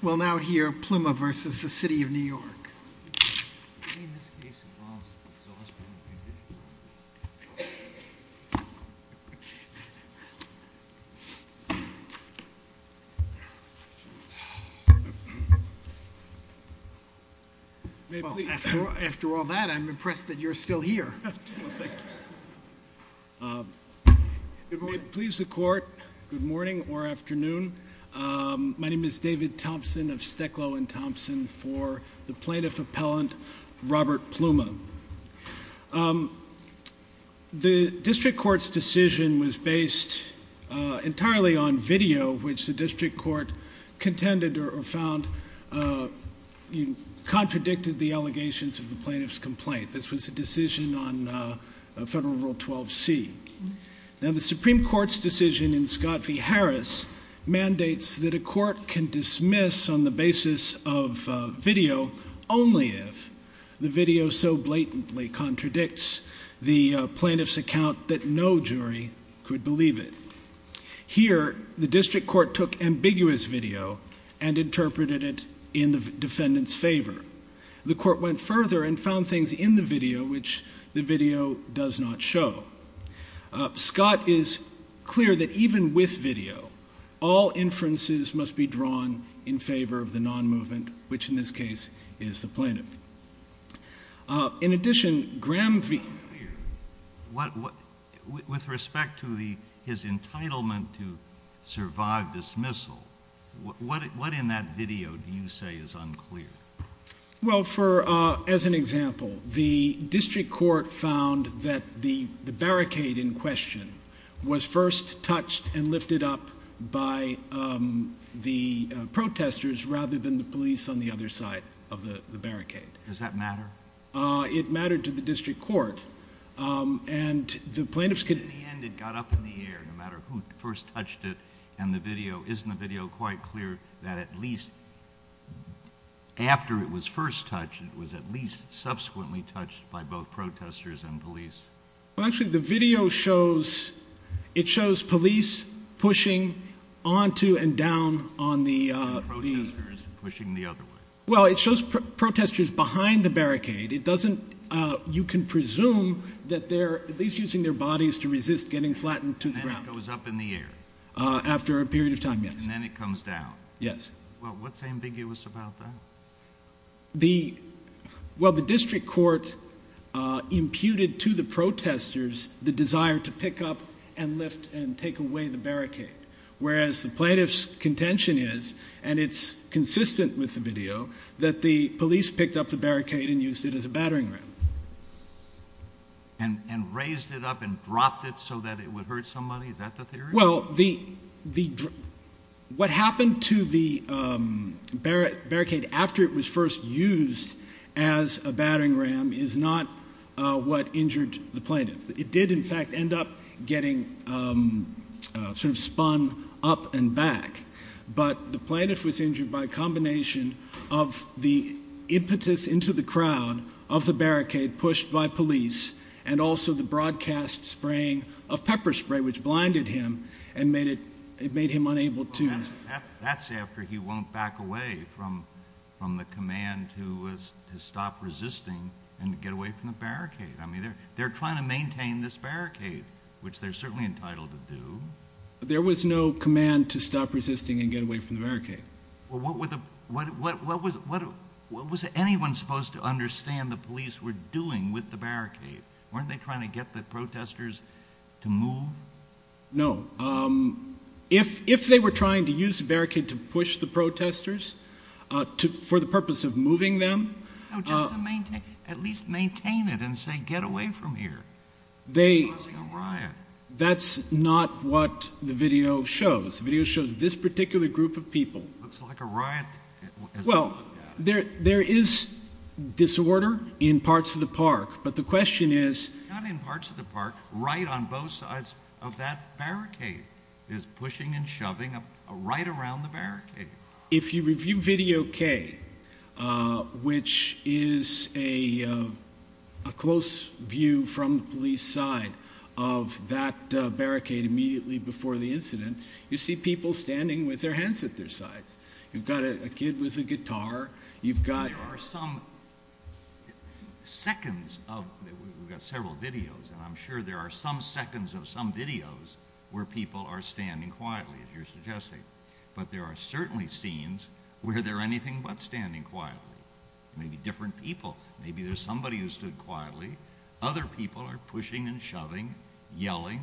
We'll now hear Pluma v. City of New York. After all that, I'm impressed that you're still here. Good morning or afternoon. My name is David Thompson of Steklow & Thompson for the Plaintiff Appellant Robert Pluma. The District Court's decision was based entirely on video which the District Court contended or found contradicted the allegations of the Plaintiff's complaint. This was a decision on Federal Rule 12c. Now the Supreme Court's decision in Scott v. Harris mandates that a court can dismiss on the basis of video only if the video so blatantly contradicts the Plaintiff's account that no jury could believe it. Here, the District Court took ambiguous video and interpreted it in the defendant's favor. The Court went further and found things in the video which the video does not show. Scott is clear that even with video, all inferences must be drawn in favor of the non-movement, which in this case is the Plaintiff. In addition, Graham v. With respect to his entitlement to survive dismissal, what in that video do you say is unclear? Well, as an example, the District Court found that the barricade in question was first touched and lifted up by the protesters rather than the police on the other side of the barricade. Does that matter? It mattered to the District Court. In the end, it got up in the air, no matter who first touched it. Isn't the video quite clear that at least after it was first touched, it was at least subsequently touched by both protesters and police? Well, actually, the video shows police pushing onto and down on the— And protesters pushing the other way. Well, it shows protesters behind the barricade. You can presume that they're at least using their bodies to resist getting flattened to the ground. And then it goes up in the air? After a period of time, yes. And then it comes down? Yes. Well, what's ambiguous about that? Well, the District Court imputed to the protesters the desire to pick up and lift and take away the barricade. Whereas the plaintiff's contention is, and it's consistent with the video, that the police picked up the barricade and used it as a battering ram. And raised it up and dropped it so that it would hurt somebody? Is that the theory? Well, what happened to the barricade after it was first used as a battering ram is not what injured the plaintiff. It did, in fact, end up getting sort of spun up and back. But the plaintiff was injured by a combination of the impetus into the crowd of the barricade pushed by police, and also the broadcast spraying of pepper spray, which blinded him and made him unable to— Well, that's after he went back away from the command to stop resisting and get away from the barricade. I mean, they're trying to maintain this barricade, which they're certainly entitled to do. There was no command to stop resisting and get away from the barricade. Well, what was anyone supposed to understand the police were doing with the barricade? Weren't they trying to get the protesters to move? No. If they were trying to use the barricade to push the protesters for the purpose of moving them— No, just to at least maintain it and say, get away from here. It's causing a riot. That's not what the video shows. The video shows this particular group of people. It looks like a riot. Well, there is disorder in parts of the park, but the question is— Not in parts of the park. Right on both sides of that barricade. It's pushing and shoving right around the barricade. If you review Video K, which is a close view from the police side of that barricade immediately before the incident, you see people standing with their hands at their sides. You've got a kid with a guitar. You've got— There are some seconds of—we've got several videos, and I'm sure there are some seconds of some videos where people are standing quietly, as you're suggesting. But there are certainly scenes where they're anything but standing quietly. Maybe different people. Maybe there's somebody who stood quietly. Other people are pushing and shoving, yelling.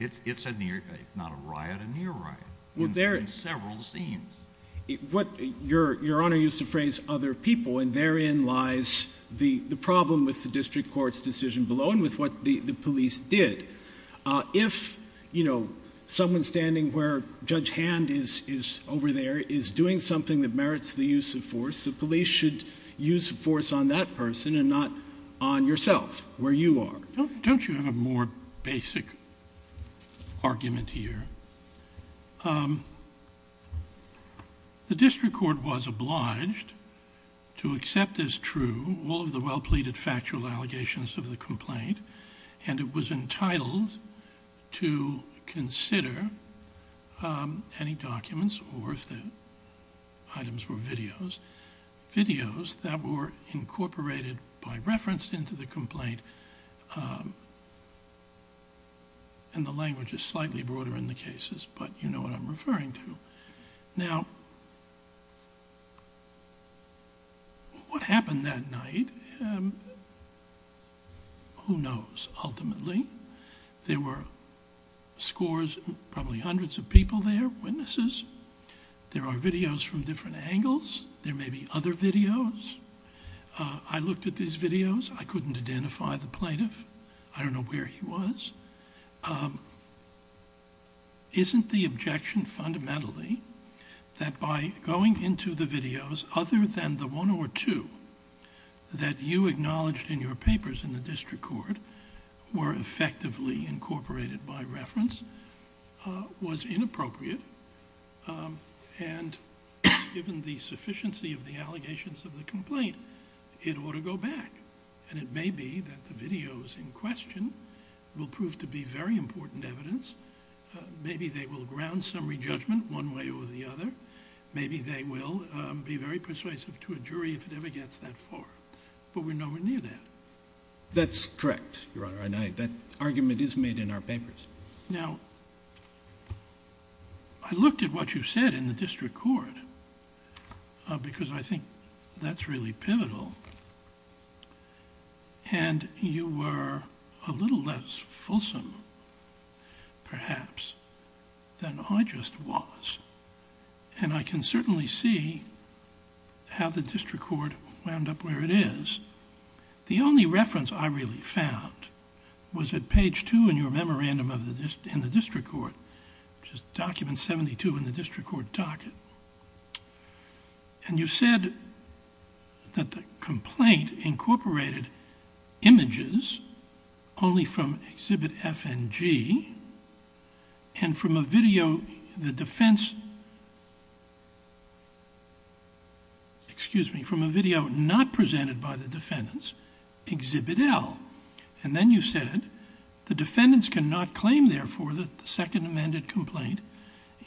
It's a near—if not a riot, a near riot. Well, there— In several scenes. Your Honor used the phrase other people, and therein lies the problem with the district court's decision below and with what the police did. If, you know, someone standing where Judge Hand is over there is doing something that merits the use of force, the police should use force on that person and not on yourself, where you are. Don't you have a more basic argument here? The district court was obliged to accept as true all of the well-pleaded factual allegations of the complaint, and it was entitled to consider any documents or, if the items were videos, videos that were incorporated by reference into the complaint. And the language is slightly broader in the cases, but you know what I'm referring to. Now, what happened that night, who knows, ultimately. There were scores, probably hundreds of people there, witnesses. There are videos from different angles. There may be other videos. I looked at these videos. I couldn't identify the plaintiff. I don't know where he was. Isn't the objection fundamentally that by going into the videos, other than the one or two that you acknowledged in your papers in the district court, were effectively incorporated by reference, was inappropriate? And given the sufficiency of the allegations of the complaint, it ought to go back. And it may be that the videos in question will prove to be very important evidence. Maybe they will ground summary judgment one way or the other. Maybe they will be very persuasive to a jury if it ever gets that far. But we're nowhere near that. That's correct, Your Honor, and that argument is made in our papers. Now, I looked at what you said in the district court because I think that's really pivotal. And you were a little less fulsome, perhaps, than I just was. And I can certainly see how the district court wound up where it is. The only reference I really found was at page two in your memorandum in the district court, which is document 72 in the district court docket. And you said that the complaint incorporated images only from exhibit F and G, and from a video not presented by the defendants, exhibit L. And then you said the defendants cannot claim, therefore, that the Second Amendment complaint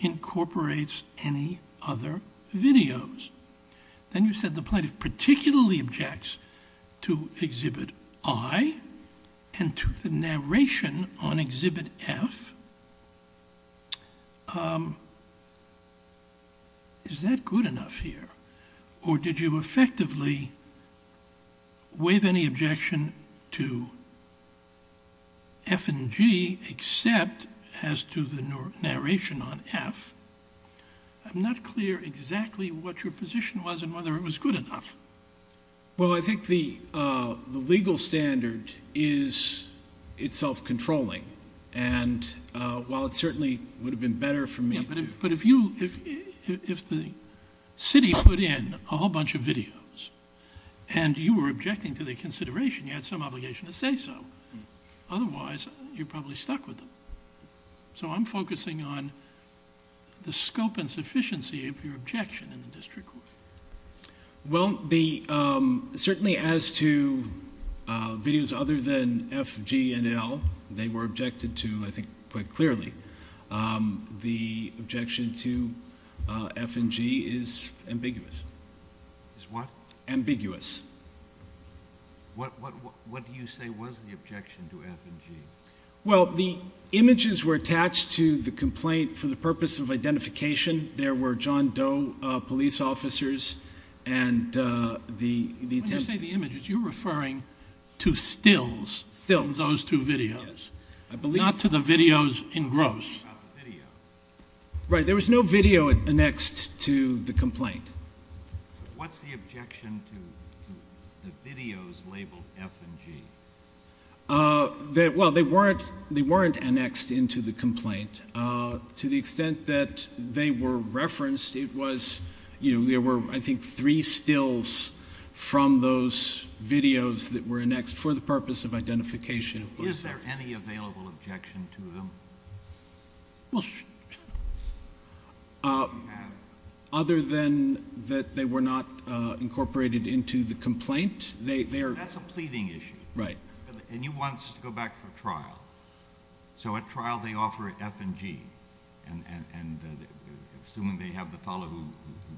incorporates any other videos. Then you said the plaintiff particularly objects to exhibit I and to the narration on exhibit F. Is that good enough here? Or did you effectively waive any objection to F and G except as to the narration on F? I'm not clear exactly what your position was and whether it was good enough. Well, I think the legal standard is itself controlling. And while it certainly would have been better for me to— Yeah, but if you—if the city put in a whole bunch of videos and you were objecting to the consideration, you had some obligation to say so. Otherwise, you're probably stuck with them. So I'm focusing on the scope and sufficiency of your objection in the district court. Well, the—certainly as to videos other than F, G, and L, they were objected to, I think, quite clearly. The objection to F and G is ambiguous. Is what? Ambiguous. What do you say was the objection to F and G? Well, the images were attached to the complaint for the purpose of identification. There were John Doe police officers and the— When you say the images, you're referring to stills in those two videos, not to the videos in gross. Right, there was no video annexed to the complaint. What's the objection to the videos labeled F and G? Well, they weren't annexed into the complaint. To the extent that they were referenced, it was— there were, I think, three stills from those videos that were annexed for the purpose of identification. Is there any available objection to them? Well, other than that they were not incorporated into the complaint, they are— And he wants to go back for trial. So at trial they offer F and G, and assuming they have the fellow who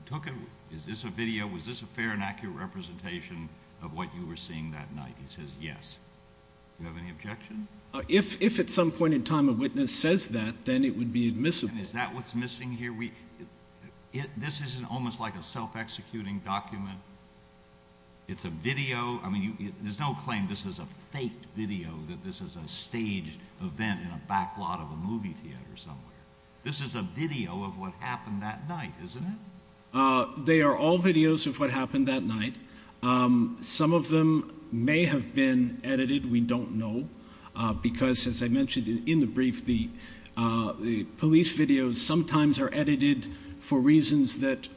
took it, is this a video, was this a fair and accurate representation of what you were seeing that night? He says yes. Do you have any objection? If at some point in time a witness says that, then it would be admissible. And is that what's missing here? This is almost like a self-executing document. It's a video. I mean, there's no claim this is a faked video, that this is a staged event in a back lot of a movie theater somewhere. This is a video of what happened that night, isn't it? They are all videos of what happened that night. Some of them may have been edited, we don't know, because, as I mentioned in the brief, the police videos sometimes are edited for reasons that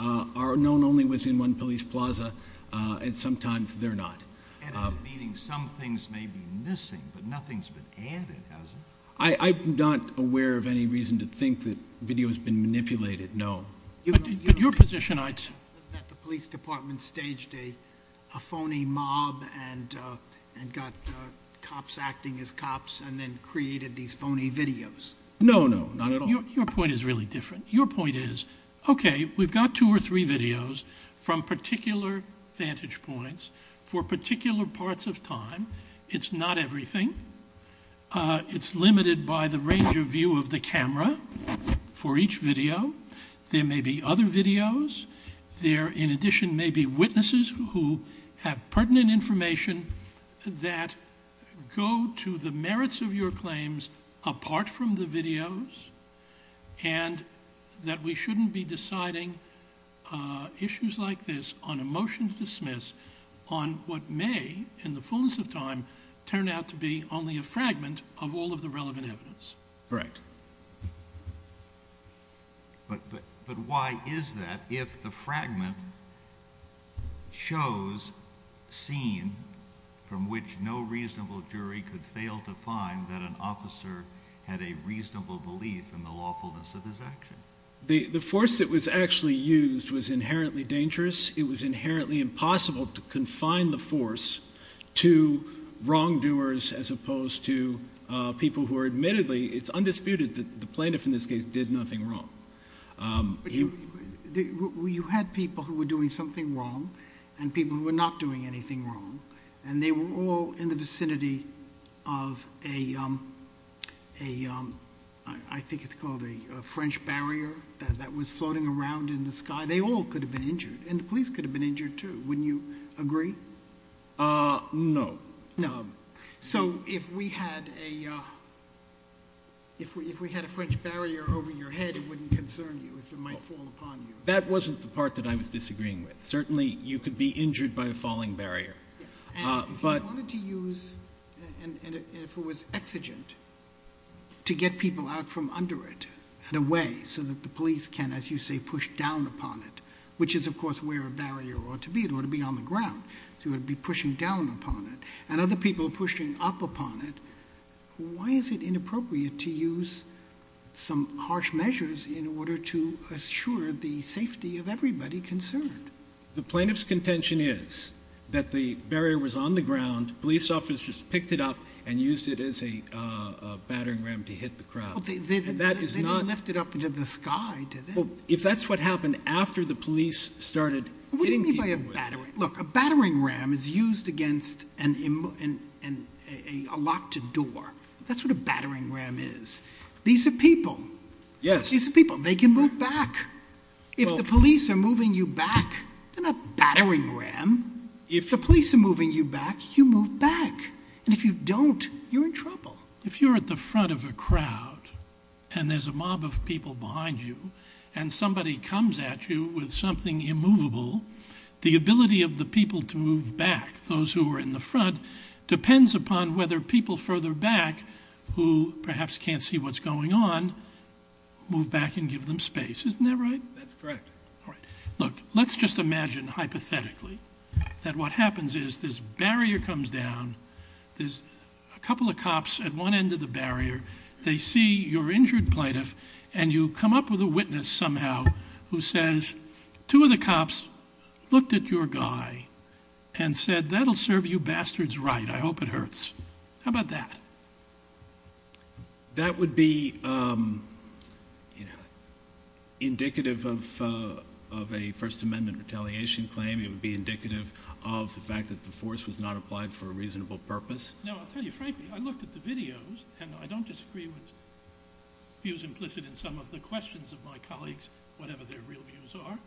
are known only within one police plaza, and sometimes they're not. Edited meaning some things may be missing, but nothing's been added, has it? I'm not aware of any reason to think that video has been manipulated, no. But your position is that the police department staged a phony mob and got cops acting as cops and then created these phony videos. No, no, not at all. Your point is really different. Your point is, okay, we've got two or three videos from particular vantage points for particular parts of time. It's not everything. It's limited by the range of view of the camera for each video. There may be other videos. There, in addition, may be witnesses who have pertinent information that go to the merits of your claims apart from the videos, and that we shouldn't be deciding issues like this on a motion to dismiss on what may, in the fullness of time, turn out to be only a fragment of all of the relevant evidence. Correct. But why is that if the fragment shows a scene from which no reasonable jury could fail to find that an officer had a reasonable belief in the lawfulness of his action? The force that was actually used was inherently dangerous. It was inherently impossible to confine the force to wrongdoers as opposed to people who are admittedly, it's undisputed that the plaintiff in this case did nothing wrong. You had people who were doing something wrong and people who were not doing anything wrong, and they were all in the vicinity of a, I think it's called a French barrier that was floating around in the sky. They all could have been injured, and the police could have been injured too. Wouldn't you agree? No. So if we had a French barrier over your head, it wouldn't concern you, it might fall upon you. That wasn't the part that I was disagreeing with. Certainly you could be injured by a falling barrier. If you wanted to use, and if it was exigent, to get people out from under it and away so that the police can, as you say, push down upon it, which is of course where a barrier ought to be. It ought to be on the ground, so you ought to be pushing down upon it. And other people pushing up upon it. Why is it inappropriate to use some harsh measures in order to assure the safety of everybody concerned? The plaintiff's contention is that the barrier was on the ground, police officers picked it up and used it as a battering ram to hit the crowd. They didn't lift it up into the sky, did they? If that's what happened after the police started hitting people with it. Look, a battering ram is used against a locked door. That's what a battering ram is. These are people. These are people. They can move back. If the police are moving you back, they're not battering ram. If the police are moving you back, you move back. And if you don't, you're in trouble. If you're at the front of a crowd and there's a mob of people behind you and somebody comes at you with something immovable, the ability of the people to move back, those who are in the front, depends upon whether people further back, who perhaps can't see what's going on, move back and give them space. Isn't that right? That's correct. Look, let's just imagine hypothetically that what happens is this barrier comes down. There's a couple of cops at one end of the barrier. They see your injured plaintiff, and you come up with a witness somehow who says, two of the cops looked at your guy and said, that'll serve you bastards right. I hope it hurts. How about that? That would be indicative of a First Amendment retaliation claim. It would be indicative of the fact that the force was not applied for a reasonable purpose. No, I'll tell you frankly, I looked at the videos, and I don't disagree with views implicit in some of the questions of my colleagues, whatever their real views are.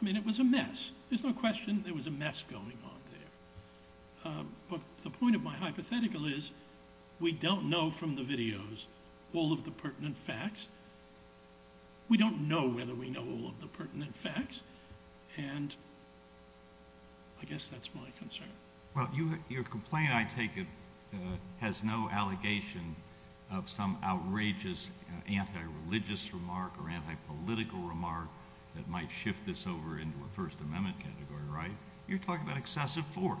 I mean, it was a mess. There's no question there was a mess going on there. But the point of my hypothetical is we don't know from the videos all of the pertinent facts. We don't know whether we know all of the pertinent facts, and I guess that's my concern. Well, your complaint, I take it, has no allegation of some outrageous anti-religious remark or anti-political remark that might shift this over into a First Amendment category, right? You're talking about excessive force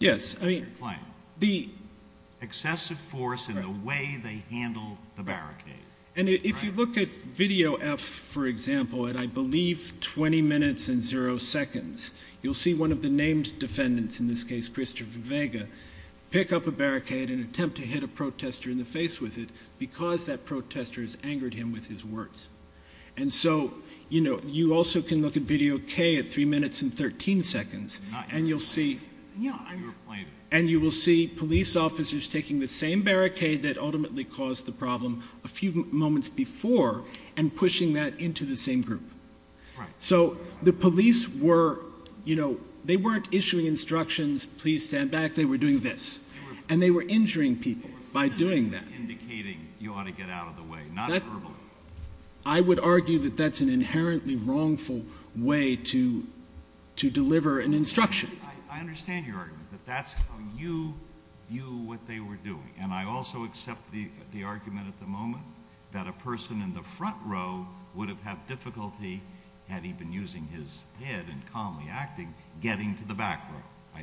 in your claim. Excessive force in the way they handle the barricade. And if you look at video F, for example, at I believe 20 minutes and zero seconds, you'll see one of the named defendants, in this case Christopher Vega, pick up a barricade and attempt to hit a protester in the face with it because that protester has angered him with his words. And so, you know, you also can look at video K at three minutes and 13 seconds, and you'll see police officers taking the same barricade that ultimately caused the problem a few moments before and pushing that into the same group. So the police were, you know, they weren't issuing instructions, please stand back, they were doing this. And they were injuring people by doing that. I'm just indicating you ought to get out of the way, not verbally. I would argue that that's an inherently wrongful way to deliver an instruction. I understand your argument, that that's how you view what they were doing. And I also accept the argument at the moment that a person in the front row would have had difficulty, had he been using his head and calmly acting, getting to the back row.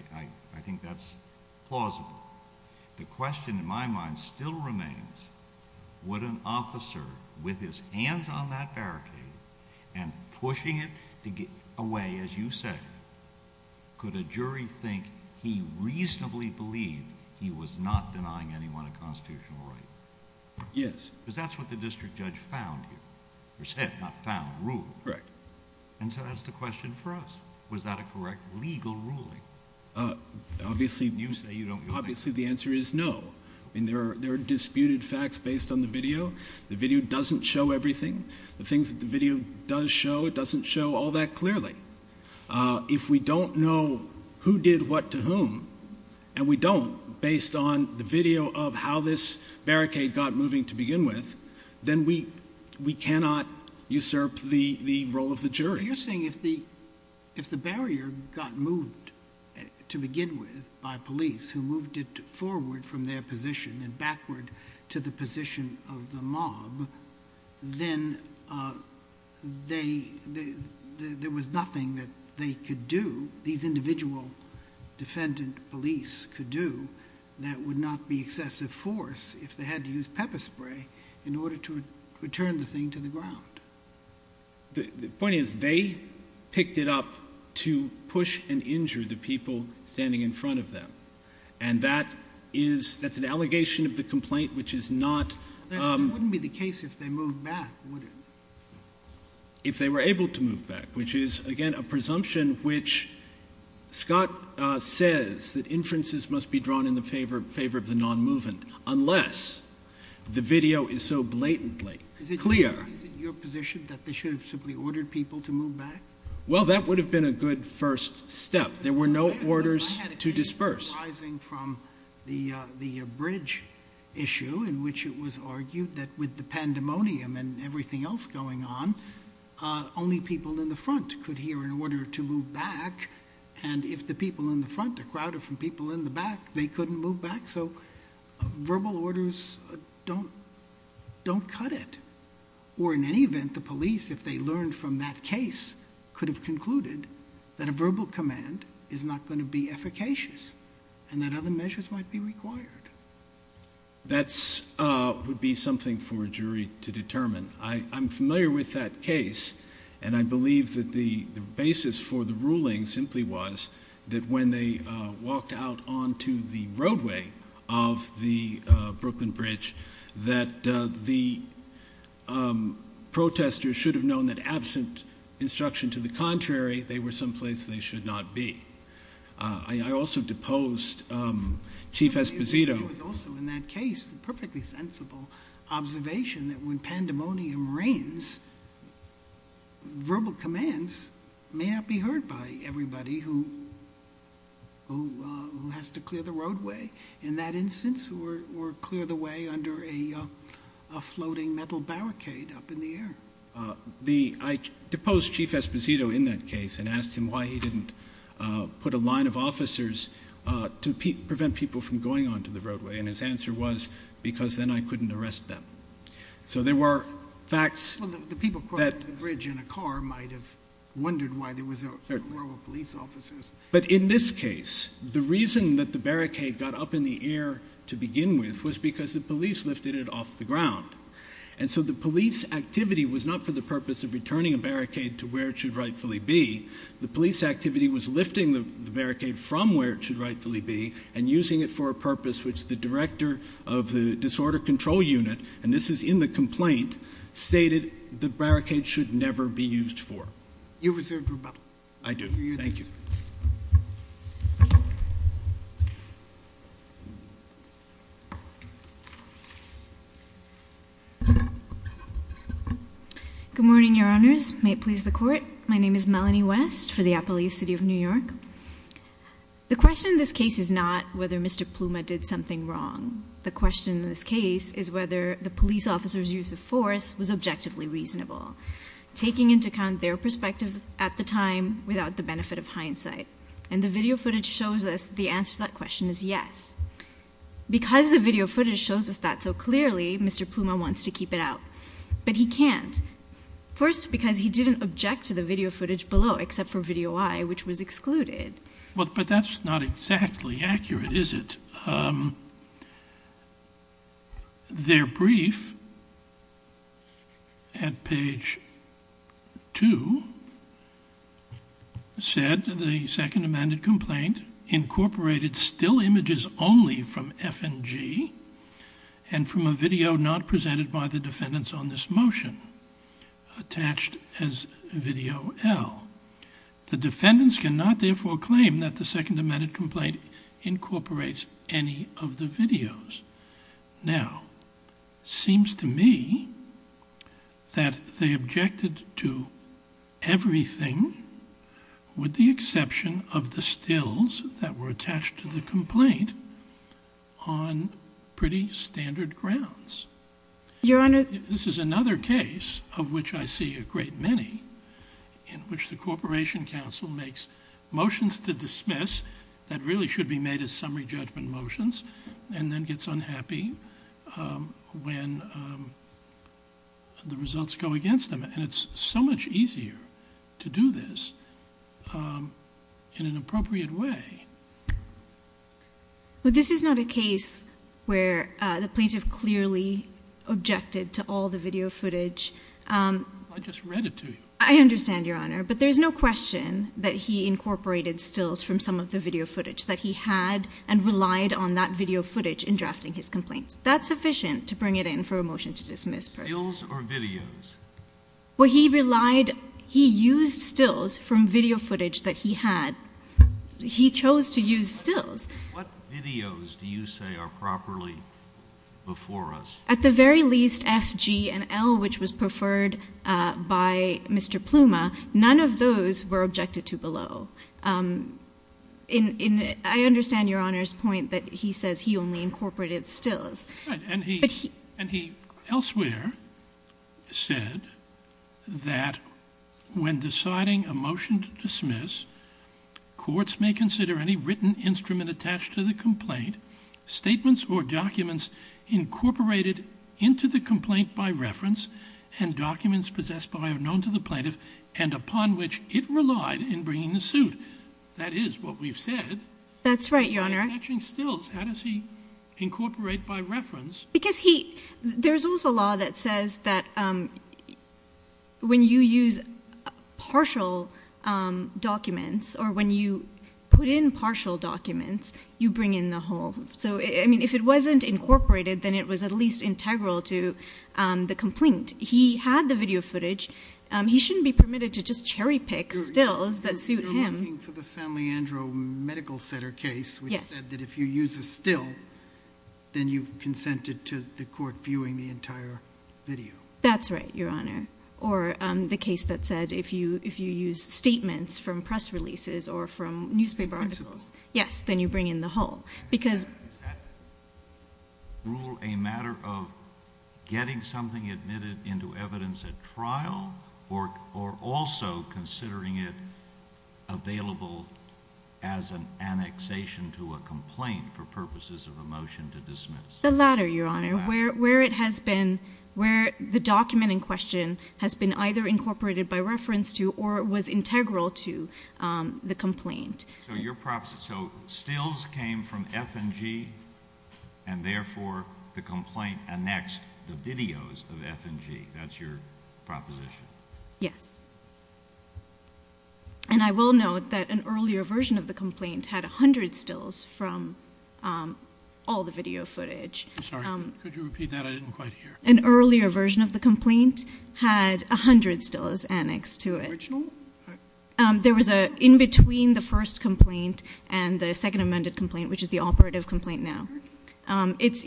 I think that's plausible. The question in my mind still remains, would an officer with his hands on that barricade and pushing it away, as you said, could a jury think he reasonably believed he was not denying anyone a constitutional right? Yes. Because that's what the district judge found here. Or said, not found, ruled. Correct. And so that's the question for us. Was that a correct legal ruling? Obviously the answer is no. There are disputed facts based on the video. The video doesn't show everything. The things that the video does show, it doesn't show all that clearly. If we don't know who did what to whom, and we don't, based on the video of how this barricade got moving to begin with, then we cannot usurp the role of the jury. So you're saying if the barrier got moved to begin with by police, who moved it forward from their position and backward to the position of the mob, then there was nothing that they could do, these individual defendant police could do, that would not be excessive force if they had to use pepper spray in order to return the thing to the ground. The point is they picked it up to push and injure the people standing in front of them. And that is, that's an allegation of the complaint, which is not. It wouldn't be the case if they moved back, would it? If they were able to move back, which is, again, a presumption which Scott says that inferences must be drawn in the favor of the non-movement, unless the video is so blatantly clear. Is it your position that they should have simply ordered people to move back? Well, that would have been a good first step. There were no orders to disperse. I had a case arising from the bridge issue in which it was argued that with the pandemonium and everything else going on, only people in the front could hear in order to move back, and if the people in the front are crowded from people in the back, they couldn't move back. So verbal orders don't cut it. Or in any event, the police, if they learned from that case, could have concluded that a verbal command is not going to be efficacious and that other measures might be required. That would be something for a jury to determine. I'm familiar with that case, and I believe that the basis for the ruling simply was that when they walked out onto the roadway of the Brooklyn Bridge, that the protesters should have known that absent instruction to the contrary, they were someplace they should not be. I also deposed Chief Esposito. It was also in that case a perfectly sensible observation that when pandemonium reigns, verbal commands may not be heard by everybody who has to clear the roadway, in that instance, or clear the way under a floating metal barricade up in the air. I deposed Chief Esposito in that case and asked him why he didn't put a line of officers to prevent people from going onto the roadway, and his answer was, because then I couldn't arrest them. So there were facts that— Well, the people crossing the bridge in a car might have wondered why there were no police officers. But in this case, the reason that the barricade got up in the air to begin with was because the police lifted it off the ground. And so the police activity was not for the purpose of returning a barricade to where it should rightfully be. The police activity was lifting the barricade from where it should rightfully be and using it for a purpose which the director of the Disorder Control Unit, and this is in the complaint, stated the barricade should never be used for. You reserve the rebuttal. I do. Thank you. Good morning, Your Honors. May it please the Court. My name is Melanie West for the Appalachian City of New York. The question in this case is not whether Mr. Pluma did something wrong. The question in this case is whether the police officer's use of force was objectively reasonable, taking into account their perspective at the time without the benefit of hindsight. And the video footage shows us that the answer to that question is yes. Because the video footage shows us that so clearly, Mr. Pluma wants to keep it out. But he can't. First, because he didn't object to the video footage below, except for Video I, which was excluded. But that's not exactly accurate, is it? Their brief at page 2 said the second amended complaint incorporated still images only from F and G, and from a video not presented by the defendants on this motion, attached as Video L. The defendants cannot, therefore, claim that the second amended complaint incorporates any of the videos. Now, it seems to me that they objected to everything, with the exception of the stills that were attached to the complaint, on pretty standard grounds. This is another case of which I see a great many, in which the Corporation Council makes motions to dismiss that really should be made as summary judgment motions, and then gets unhappy when the results go against them. And it's so much easier to do this in an appropriate way. Well, this is not a case where the plaintiff clearly objected to all the video footage. I just read it to you. I understand, Your Honor. But there's no question that he incorporated stills from some of the video footage that he had, and relied on that video footage in drafting his complaints. That's sufficient to bring it in for a motion to dismiss. Stills or videos? Well, he relied, he used stills from video footage that he had. He chose to use stills. What videos do you say are properly before us? At the very least, F, G, and L, which was preferred by Mr. Pluma. None of those were objected to below. I understand Your Honor's point that he says he only incorporated stills. And he elsewhere said that when deciding a motion to dismiss, courts may consider any written instrument attached to the complaint, statements or documents incorporated into the complaint by reference, and documents possessed by or known to the plaintiff, and upon which it relied in bringing the suit. That is what we've said. That's right, Your Honor. How does he incorporate by reference? Because he, there's also a law that says that when you use partial documents, or when you put in partial documents, you bring in the whole. So, I mean, if it wasn't incorporated, then it was at least integral to the complaint. He had the video footage. He shouldn't be permitted to just cherry pick stills that suit him. You're talking for the San Leandro Medical Center case, which said that if you use a still, then you've consented to the court viewing the entire video. That's right, Your Honor. Or the case that said if you use statements from press releases or from newspaper articles, yes, then you bring in the whole. Is that rule a matter of getting something admitted into evidence at trial, or also considering it available as an annexation to a complaint for purposes of a motion to dismiss? The latter, Your Honor. The latter. Where it has been, where the document in question has been either incorporated by reference to or was integral to the complaint. So your proposition, so stills came from F&G, and therefore the complaint annexed the videos of F&G. That's your proposition? Yes. And I will note that an earlier version of the complaint had 100 stills from all the video footage. Sorry, could you repeat that? I didn't quite hear. An earlier version of the complaint had 100 stills annexed to it. Original? There was an in-between the first complaint and the second amended complaint, which is the operative complaint now. It's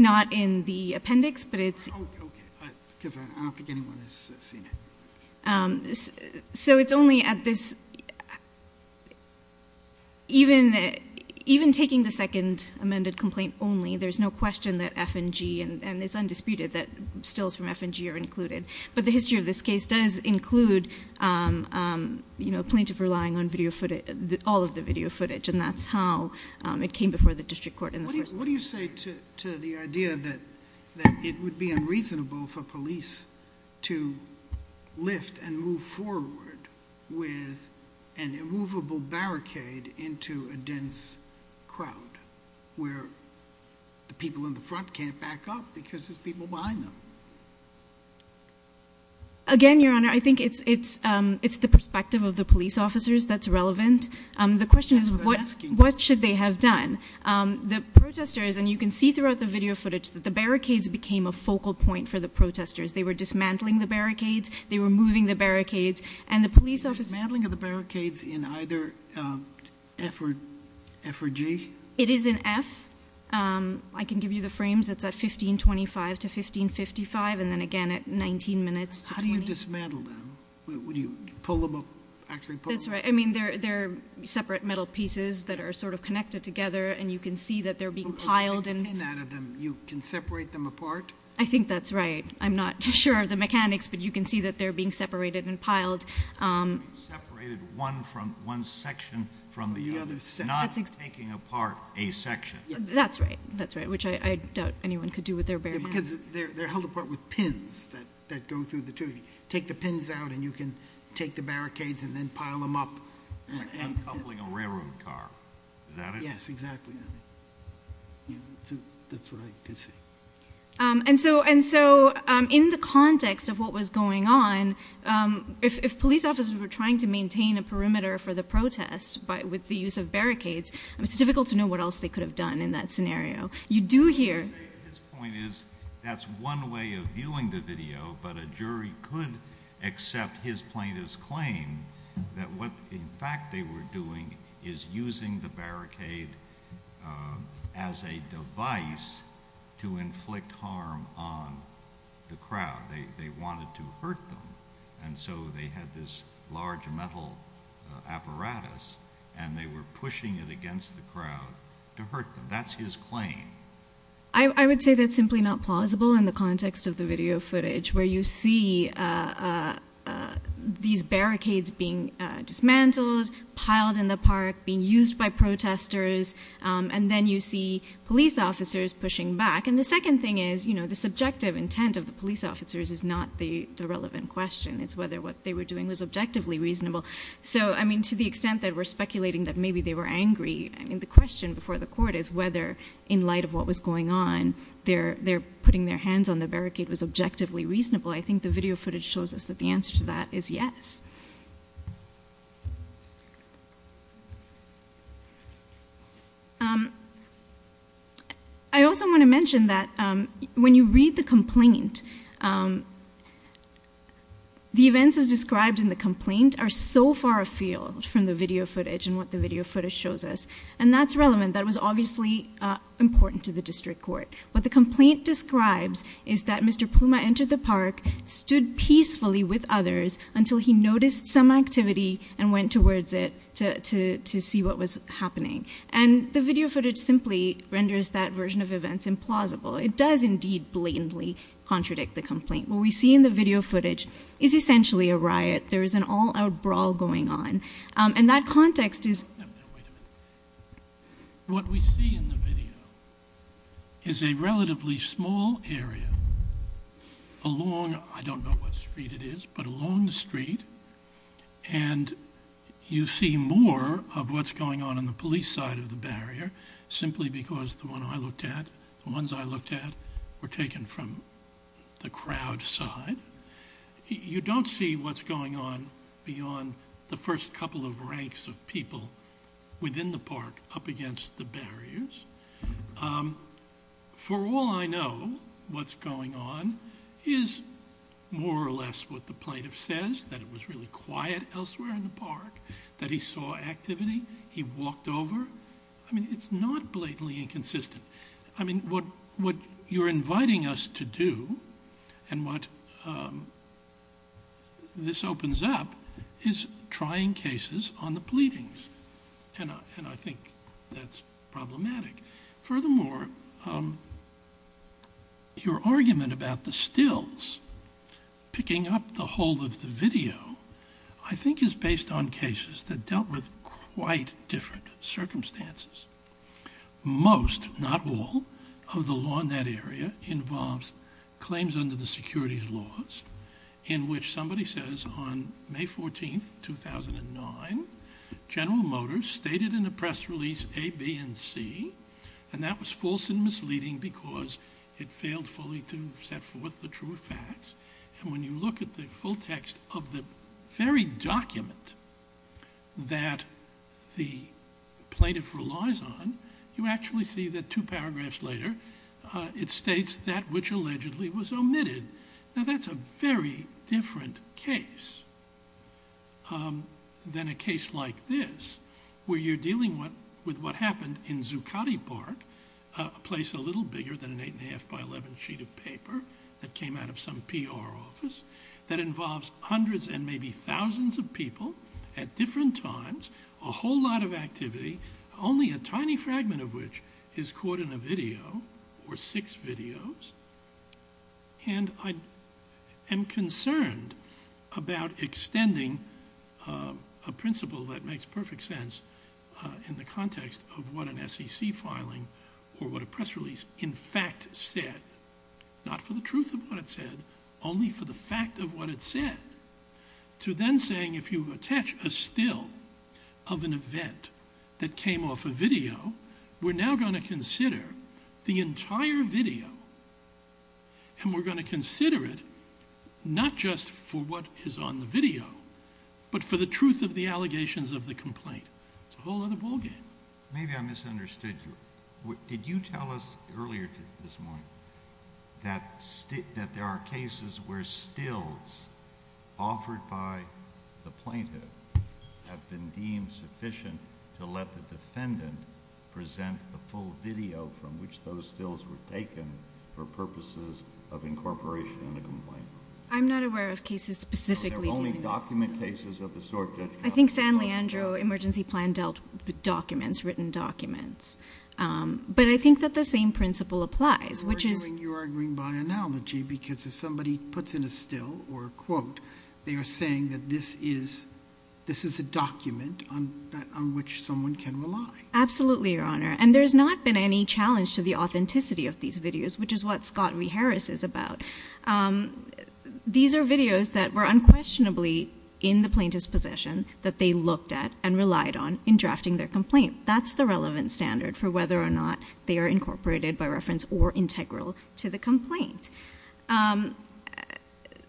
not in the appendix, but it's – Oh, okay. Because I don't think anyone has seen it. So it's only at this – even taking the second amended complaint only, there's no question that F&G, and it's undisputed that stills from F&G are included. But the history of this case does include plaintiff relying on all of the video footage, and that's how it came before the district court in the first place. What do you say to the idea that it would be unreasonable for police to lift and move forward with an immovable barricade into a dense crowd where the people in the front can't back up because there's people behind them? Again, Your Honor, I think it's the perspective of the police officers that's relevant. That's what I'm asking. The question is, what should they have done? The protesters, and you can see throughout the video footage, that the barricades became a focal point for the protesters. They were dismantling the barricades. They were moving the barricades. And the police officers – The dismantling of the barricades in either F or G? It is in F. I can give you the frames. It's at 1525 to 1555, and then again at 19 minutes to 20. How do you dismantle them? Do you pull them up, actually pull them up? That's right. I mean, they're separate metal pieces that are sort of connected together, and you can see that they're being piled. You can separate them apart? I think that's right. I'm not sure of the mechanics, but you can see that they're being separated and piled. Separated one section from the other, not taking apart a section. That's right. That's right, which I doubt anyone could do with their bare hands. They're held apart with pins that go through the two. You take the pins out, and you can take the barricades and then pile them up. Like uncoupling a railroad car. Is that it? Yes, exactly. That's what I could see. And so in the context of what was going on, if police officers were trying to maintain a perimeter for the protest with the use of barricades, it's difficult to know what else they could have done in that scenario. You do hear. His point is that's one way of viewing the video, but a jury could accept his plaintiff's claim that what, in fact, they were doing is using the barricade as a device to inflict harm on the crowd. They wanted to hurt them. And so they had this large metal apparatus, and they were pushing it against the crowd to hurt them. That's his claim. I would say that's simply not plausible in the context of the video footage, where you see these barricades being dismantled, piled in the park, being used by protesters, and then you see police officers pushing back. And the second thing is the subjective intent of the police officers is not the relevant question. It's whether what they were doing was objectively reasonable. So, I mean, to the extent that we're speculating that maybe they were angry, I mean, the question before the court is whether, in light of what was going on, their putting their hands on the barricade was objectively reasonable. I think the video footage shows us that the answer to that is yes. I also want to mention that when you read the complaint, the events as described in the complaint are so far afield from the video footage and what the video footage shows us, and that's relevant. That was obviously important to the district court. What the complaint describes is that Mr. Pluma entered the park, stood peacefully with others until he noticed the barricade. He noticed some activity and went towards it to see what was happening. And the video footage simply renders that version of events implausible. It does indeed blatantly contradict the complaint. What we see in the video footage is essentially a riot. There is an all-out brawl going on. And that context is... Wait a minute. What we see in the video is a relatively small area along, I don't know what street it is, but along the street. And you see more of what's going on in the police side of the barrier simply because the ones I looked at were taken from the crowd side. You don't see what's going on beyond the first couple of ranks of people within the park up against the barriers. For all I know, what's going on is more or less what the plaintiff says, that it was really quiet elsewhere in the park, that he saw activity. He walked over. I mean, it's not blatantly inconsistent. I mean, what you're inviting us to do and what this opens up is trying cases on the pleadings. And I think that's problematic. Furthermore, your argument about the stills picking up the whole of the video I think is based on cases that dealt with quite different circumstances. Most, not all, of the law in that area involves claims under the securities laws in which somebody says on May 14, 2009, General Motors stated in a press release A, B, and C, and that was false and misleading because it failed fully to set forth the true facts. And when you look at the full text of the very document that the plaintiff relies on, you actually see that two paragraphs later it states that which allegedly was omitted. Now, that's a very different case than a case like this where you're dealing with what happened in Zuccotti Park, a place a little bigger than an 8 1⁄2 by 11 sheet of paper that came out of some PR office, that involves hundreds and maybe thousands of people at different times, a whole lot of activity, only a tiny fragment of which is caught in a video or six videos, and I am concerned about extending a principle that makes perfect sense in the context of what an SEC filing or what a press release in fact said, not for the truth of what it said, only for the fact of what it said, to then saying if you attach a still of an event that came off a video, we're now going to consider the entire video, and we're going to consider it not just for what is on the video, but for the truth of the allegations of the complaint. It's a whole other ballgame. Maybe I misunderstood you. Did you tell us earlier this morning that there are cases where stills offered by the plaintiff have been deemed sufficient to let the defendant present a full video from which those stills were taken for purposes of incorporation in the complaint? I'm not aware of cases specifically dealing with stills. So there are only document cases of the sort, Judge Cotter? I think San Leandro emergency plan dealt with documents, written documents, but I think that the same principle applies, which is— You're arguing by analogy because if somebody puts in a still or a quote, they are saying that this is a document on which someone can rely. Absolutely, Your Honor. And there's not been any challenge to the authenticity of these videos, which is what Scott v. Harris is about. These are videos that were unquestionably in the plaintiff's possession that they looked at and relied on in drafting their complaint. That's the relevant standard for whether or not they are incorporated by reference or integral to the complaint.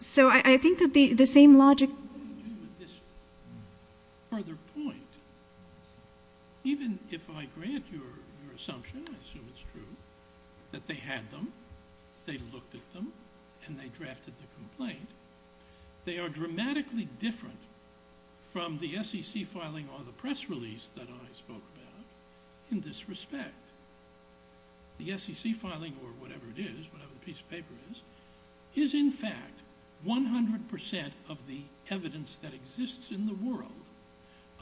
So I think that the same logic— I'll leave you with this further point. Even if I grant your assumption, I assume it's true, that they had them, they looked at them, and they drafted the complaint, they are dramatically different from the SEC filing or the press release that I spoke about in this respect. The SEC filing or whatever it is, whatever the piece of paper is, is in fact 100% of the evidence that exists in the world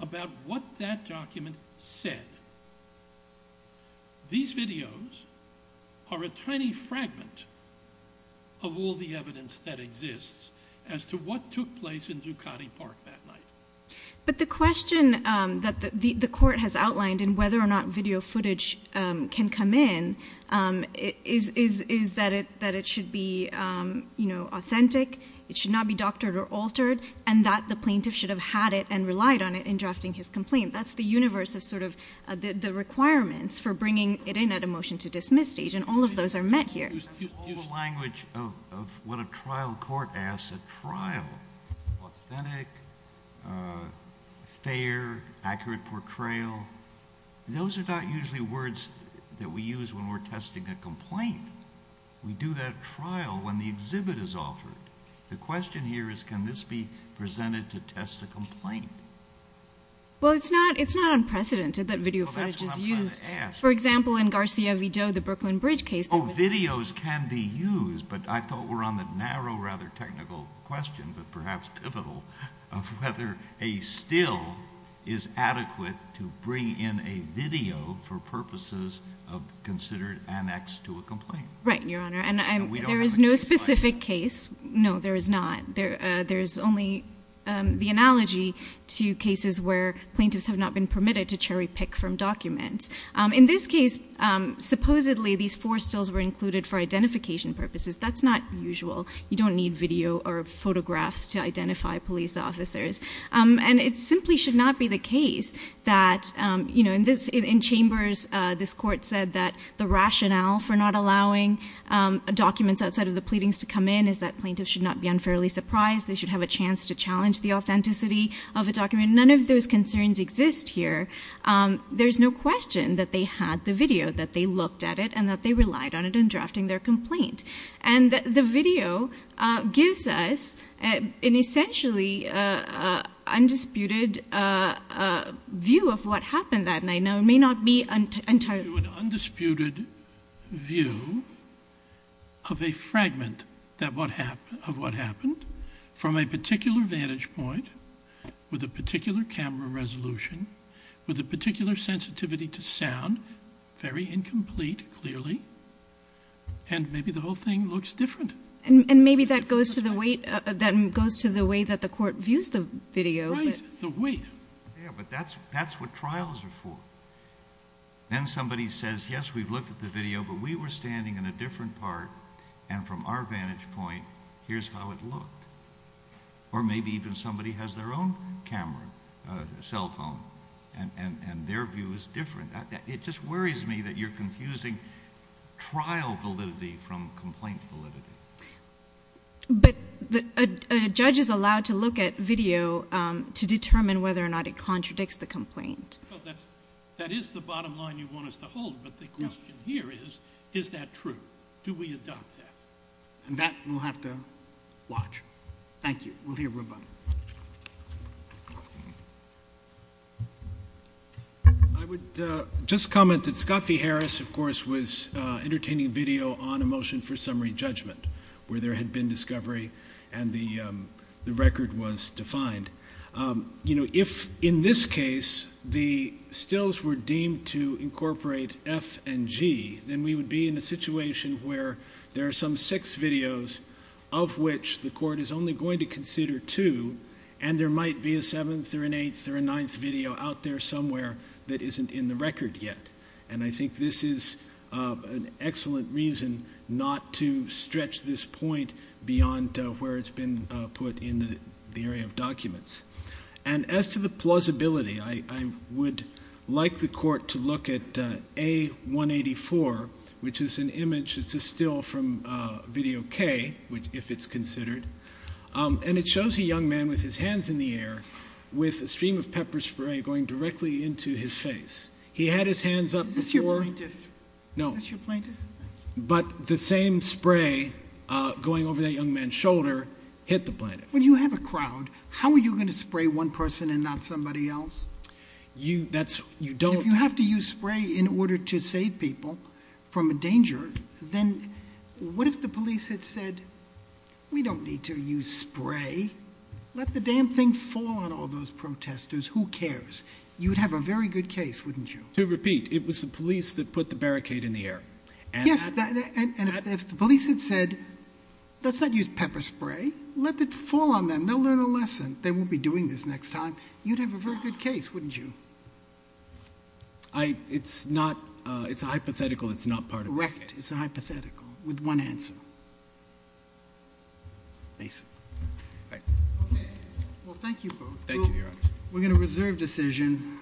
about what that document said. These videos are a tiny fragment of all the evidence that exists as to what took place in Ducati Park that night. But the question that the court has outlined in whether or not video footage can come in is that it should be authentic, it should not be doctored or altered, and that the plaintiff should have had it and relied on it in drafting his complaint. That's the universe of the requirements for bringing it in at a motion to dismiss stage, and all of those are met here. That's all the language of what a trial court asks at trial, authentic, fair, accurate portrayal. Those are not usually words that we use when we're testing a complaint. We do that at trial when the exhibit is offered. The question here is can this be presented to test a complaint? Well, it's not unprecedented that video footage is used. Well, that's what I'm trying to ask. For example, in Garcia V. Doe, the Brooklyn Bridge case. Oh, videos can be used, but I thought we were on the narrow, rather technical question, but perhaps pivotal, of whether a still is adequate to bring in a video for purposes considered annexed to a complaint. Right, Your Honor, and there is no specific case. No, there is not. There is only the analogy to cases where plaintiffs have not been permitted to cherry-pick from documents. In this case, supposedly these four stills were included for identification purposes. That's not usual. You don't need video or photographs to identify police officers. And it simply should not be the case that, you know, in Chambers, this court said that the rationale for not allowing documents outside of the pleadings to come in is that plaintiffs should not be unfairly surprised. They should have a chance to challenge the authenticity of a document. None of those concerns exist here. There's no question that they had the video, that they looked at it, and that they relied on it in drafting their complaint. And the video gives us an essentially undisputed view of what happened that night. Now, it may not be entirely true. Undisputed view of a fragment of what happened from a particular vantage point with a particular camera resolution, with a particular sensitivity to sound, very incomplete, clearly, and maybe the whole thing looks different. And maybe that goes to the way that the court views the video. Right, the weight. Yeah, but that's what trials are for. Then somebody says, yes, we've looked at the video, but we were standing in a different part, and from our vantage point, here's how it looked. Or maybe even somebody has their own camera, cell phone, and their view is different. It just worries me that you're confusing trial validity from complaint validity. But a judge is allowed to look at video to determine whether or not it contradicts the complaint. That is the bottom line you want us to hold, but the question here is, is that true? Do we adopt that? And that we'll have to watch. Thank you. We'll hear from everybody. I would just comment that Scott V. Harris, of course, was entertaining video on a motion for summary judgment where there had been discovery and the record was defined. If, in this case, the stills were deemed to incorporate F and G, then we would be in a situation where there are some six videos of which the court is only going to consider two, and there might be a seventh or an eighth or a ninth video out there somewhere that isn't in the record yet. And I think this is an excellent reason not to stretch this point beyond where it's been put in the area of documents. And as to the plausibility, I would like the court to look at A184, which is an image that's a still from Video K, if it's considered. And it shows a young man with his hands in the air with a stream of pepper spray going directly into his face. He had his hands up before. Is this your plaintiff? No. Is this your plaintiff? But the same spray going over that young man's shoulder hit the plaintiff. When you have a crowd, how are you going to spray one person and not somebody else? You don't. If you have to use spray in order to save people from a danger, then what if the police had said, We don't need to use spray. Let the damn thing fall on all those protesters. Who cares? You would have a very good case, wouldn't you? To repeat, it was the police that put the barricade in the air. Yes, and if the police had said, Let's not use pepper spray. Let it fall on them. They'll learn a lesson. They won't be doing this next time. You'd have a very good case, wouldn't you? It's a hypothetical. It's not part of this case. Correct. It's a hypothetical with one answer. Mason. Okay. Well, thank you both. Thank you, Your Honor. We're going to reserve decision.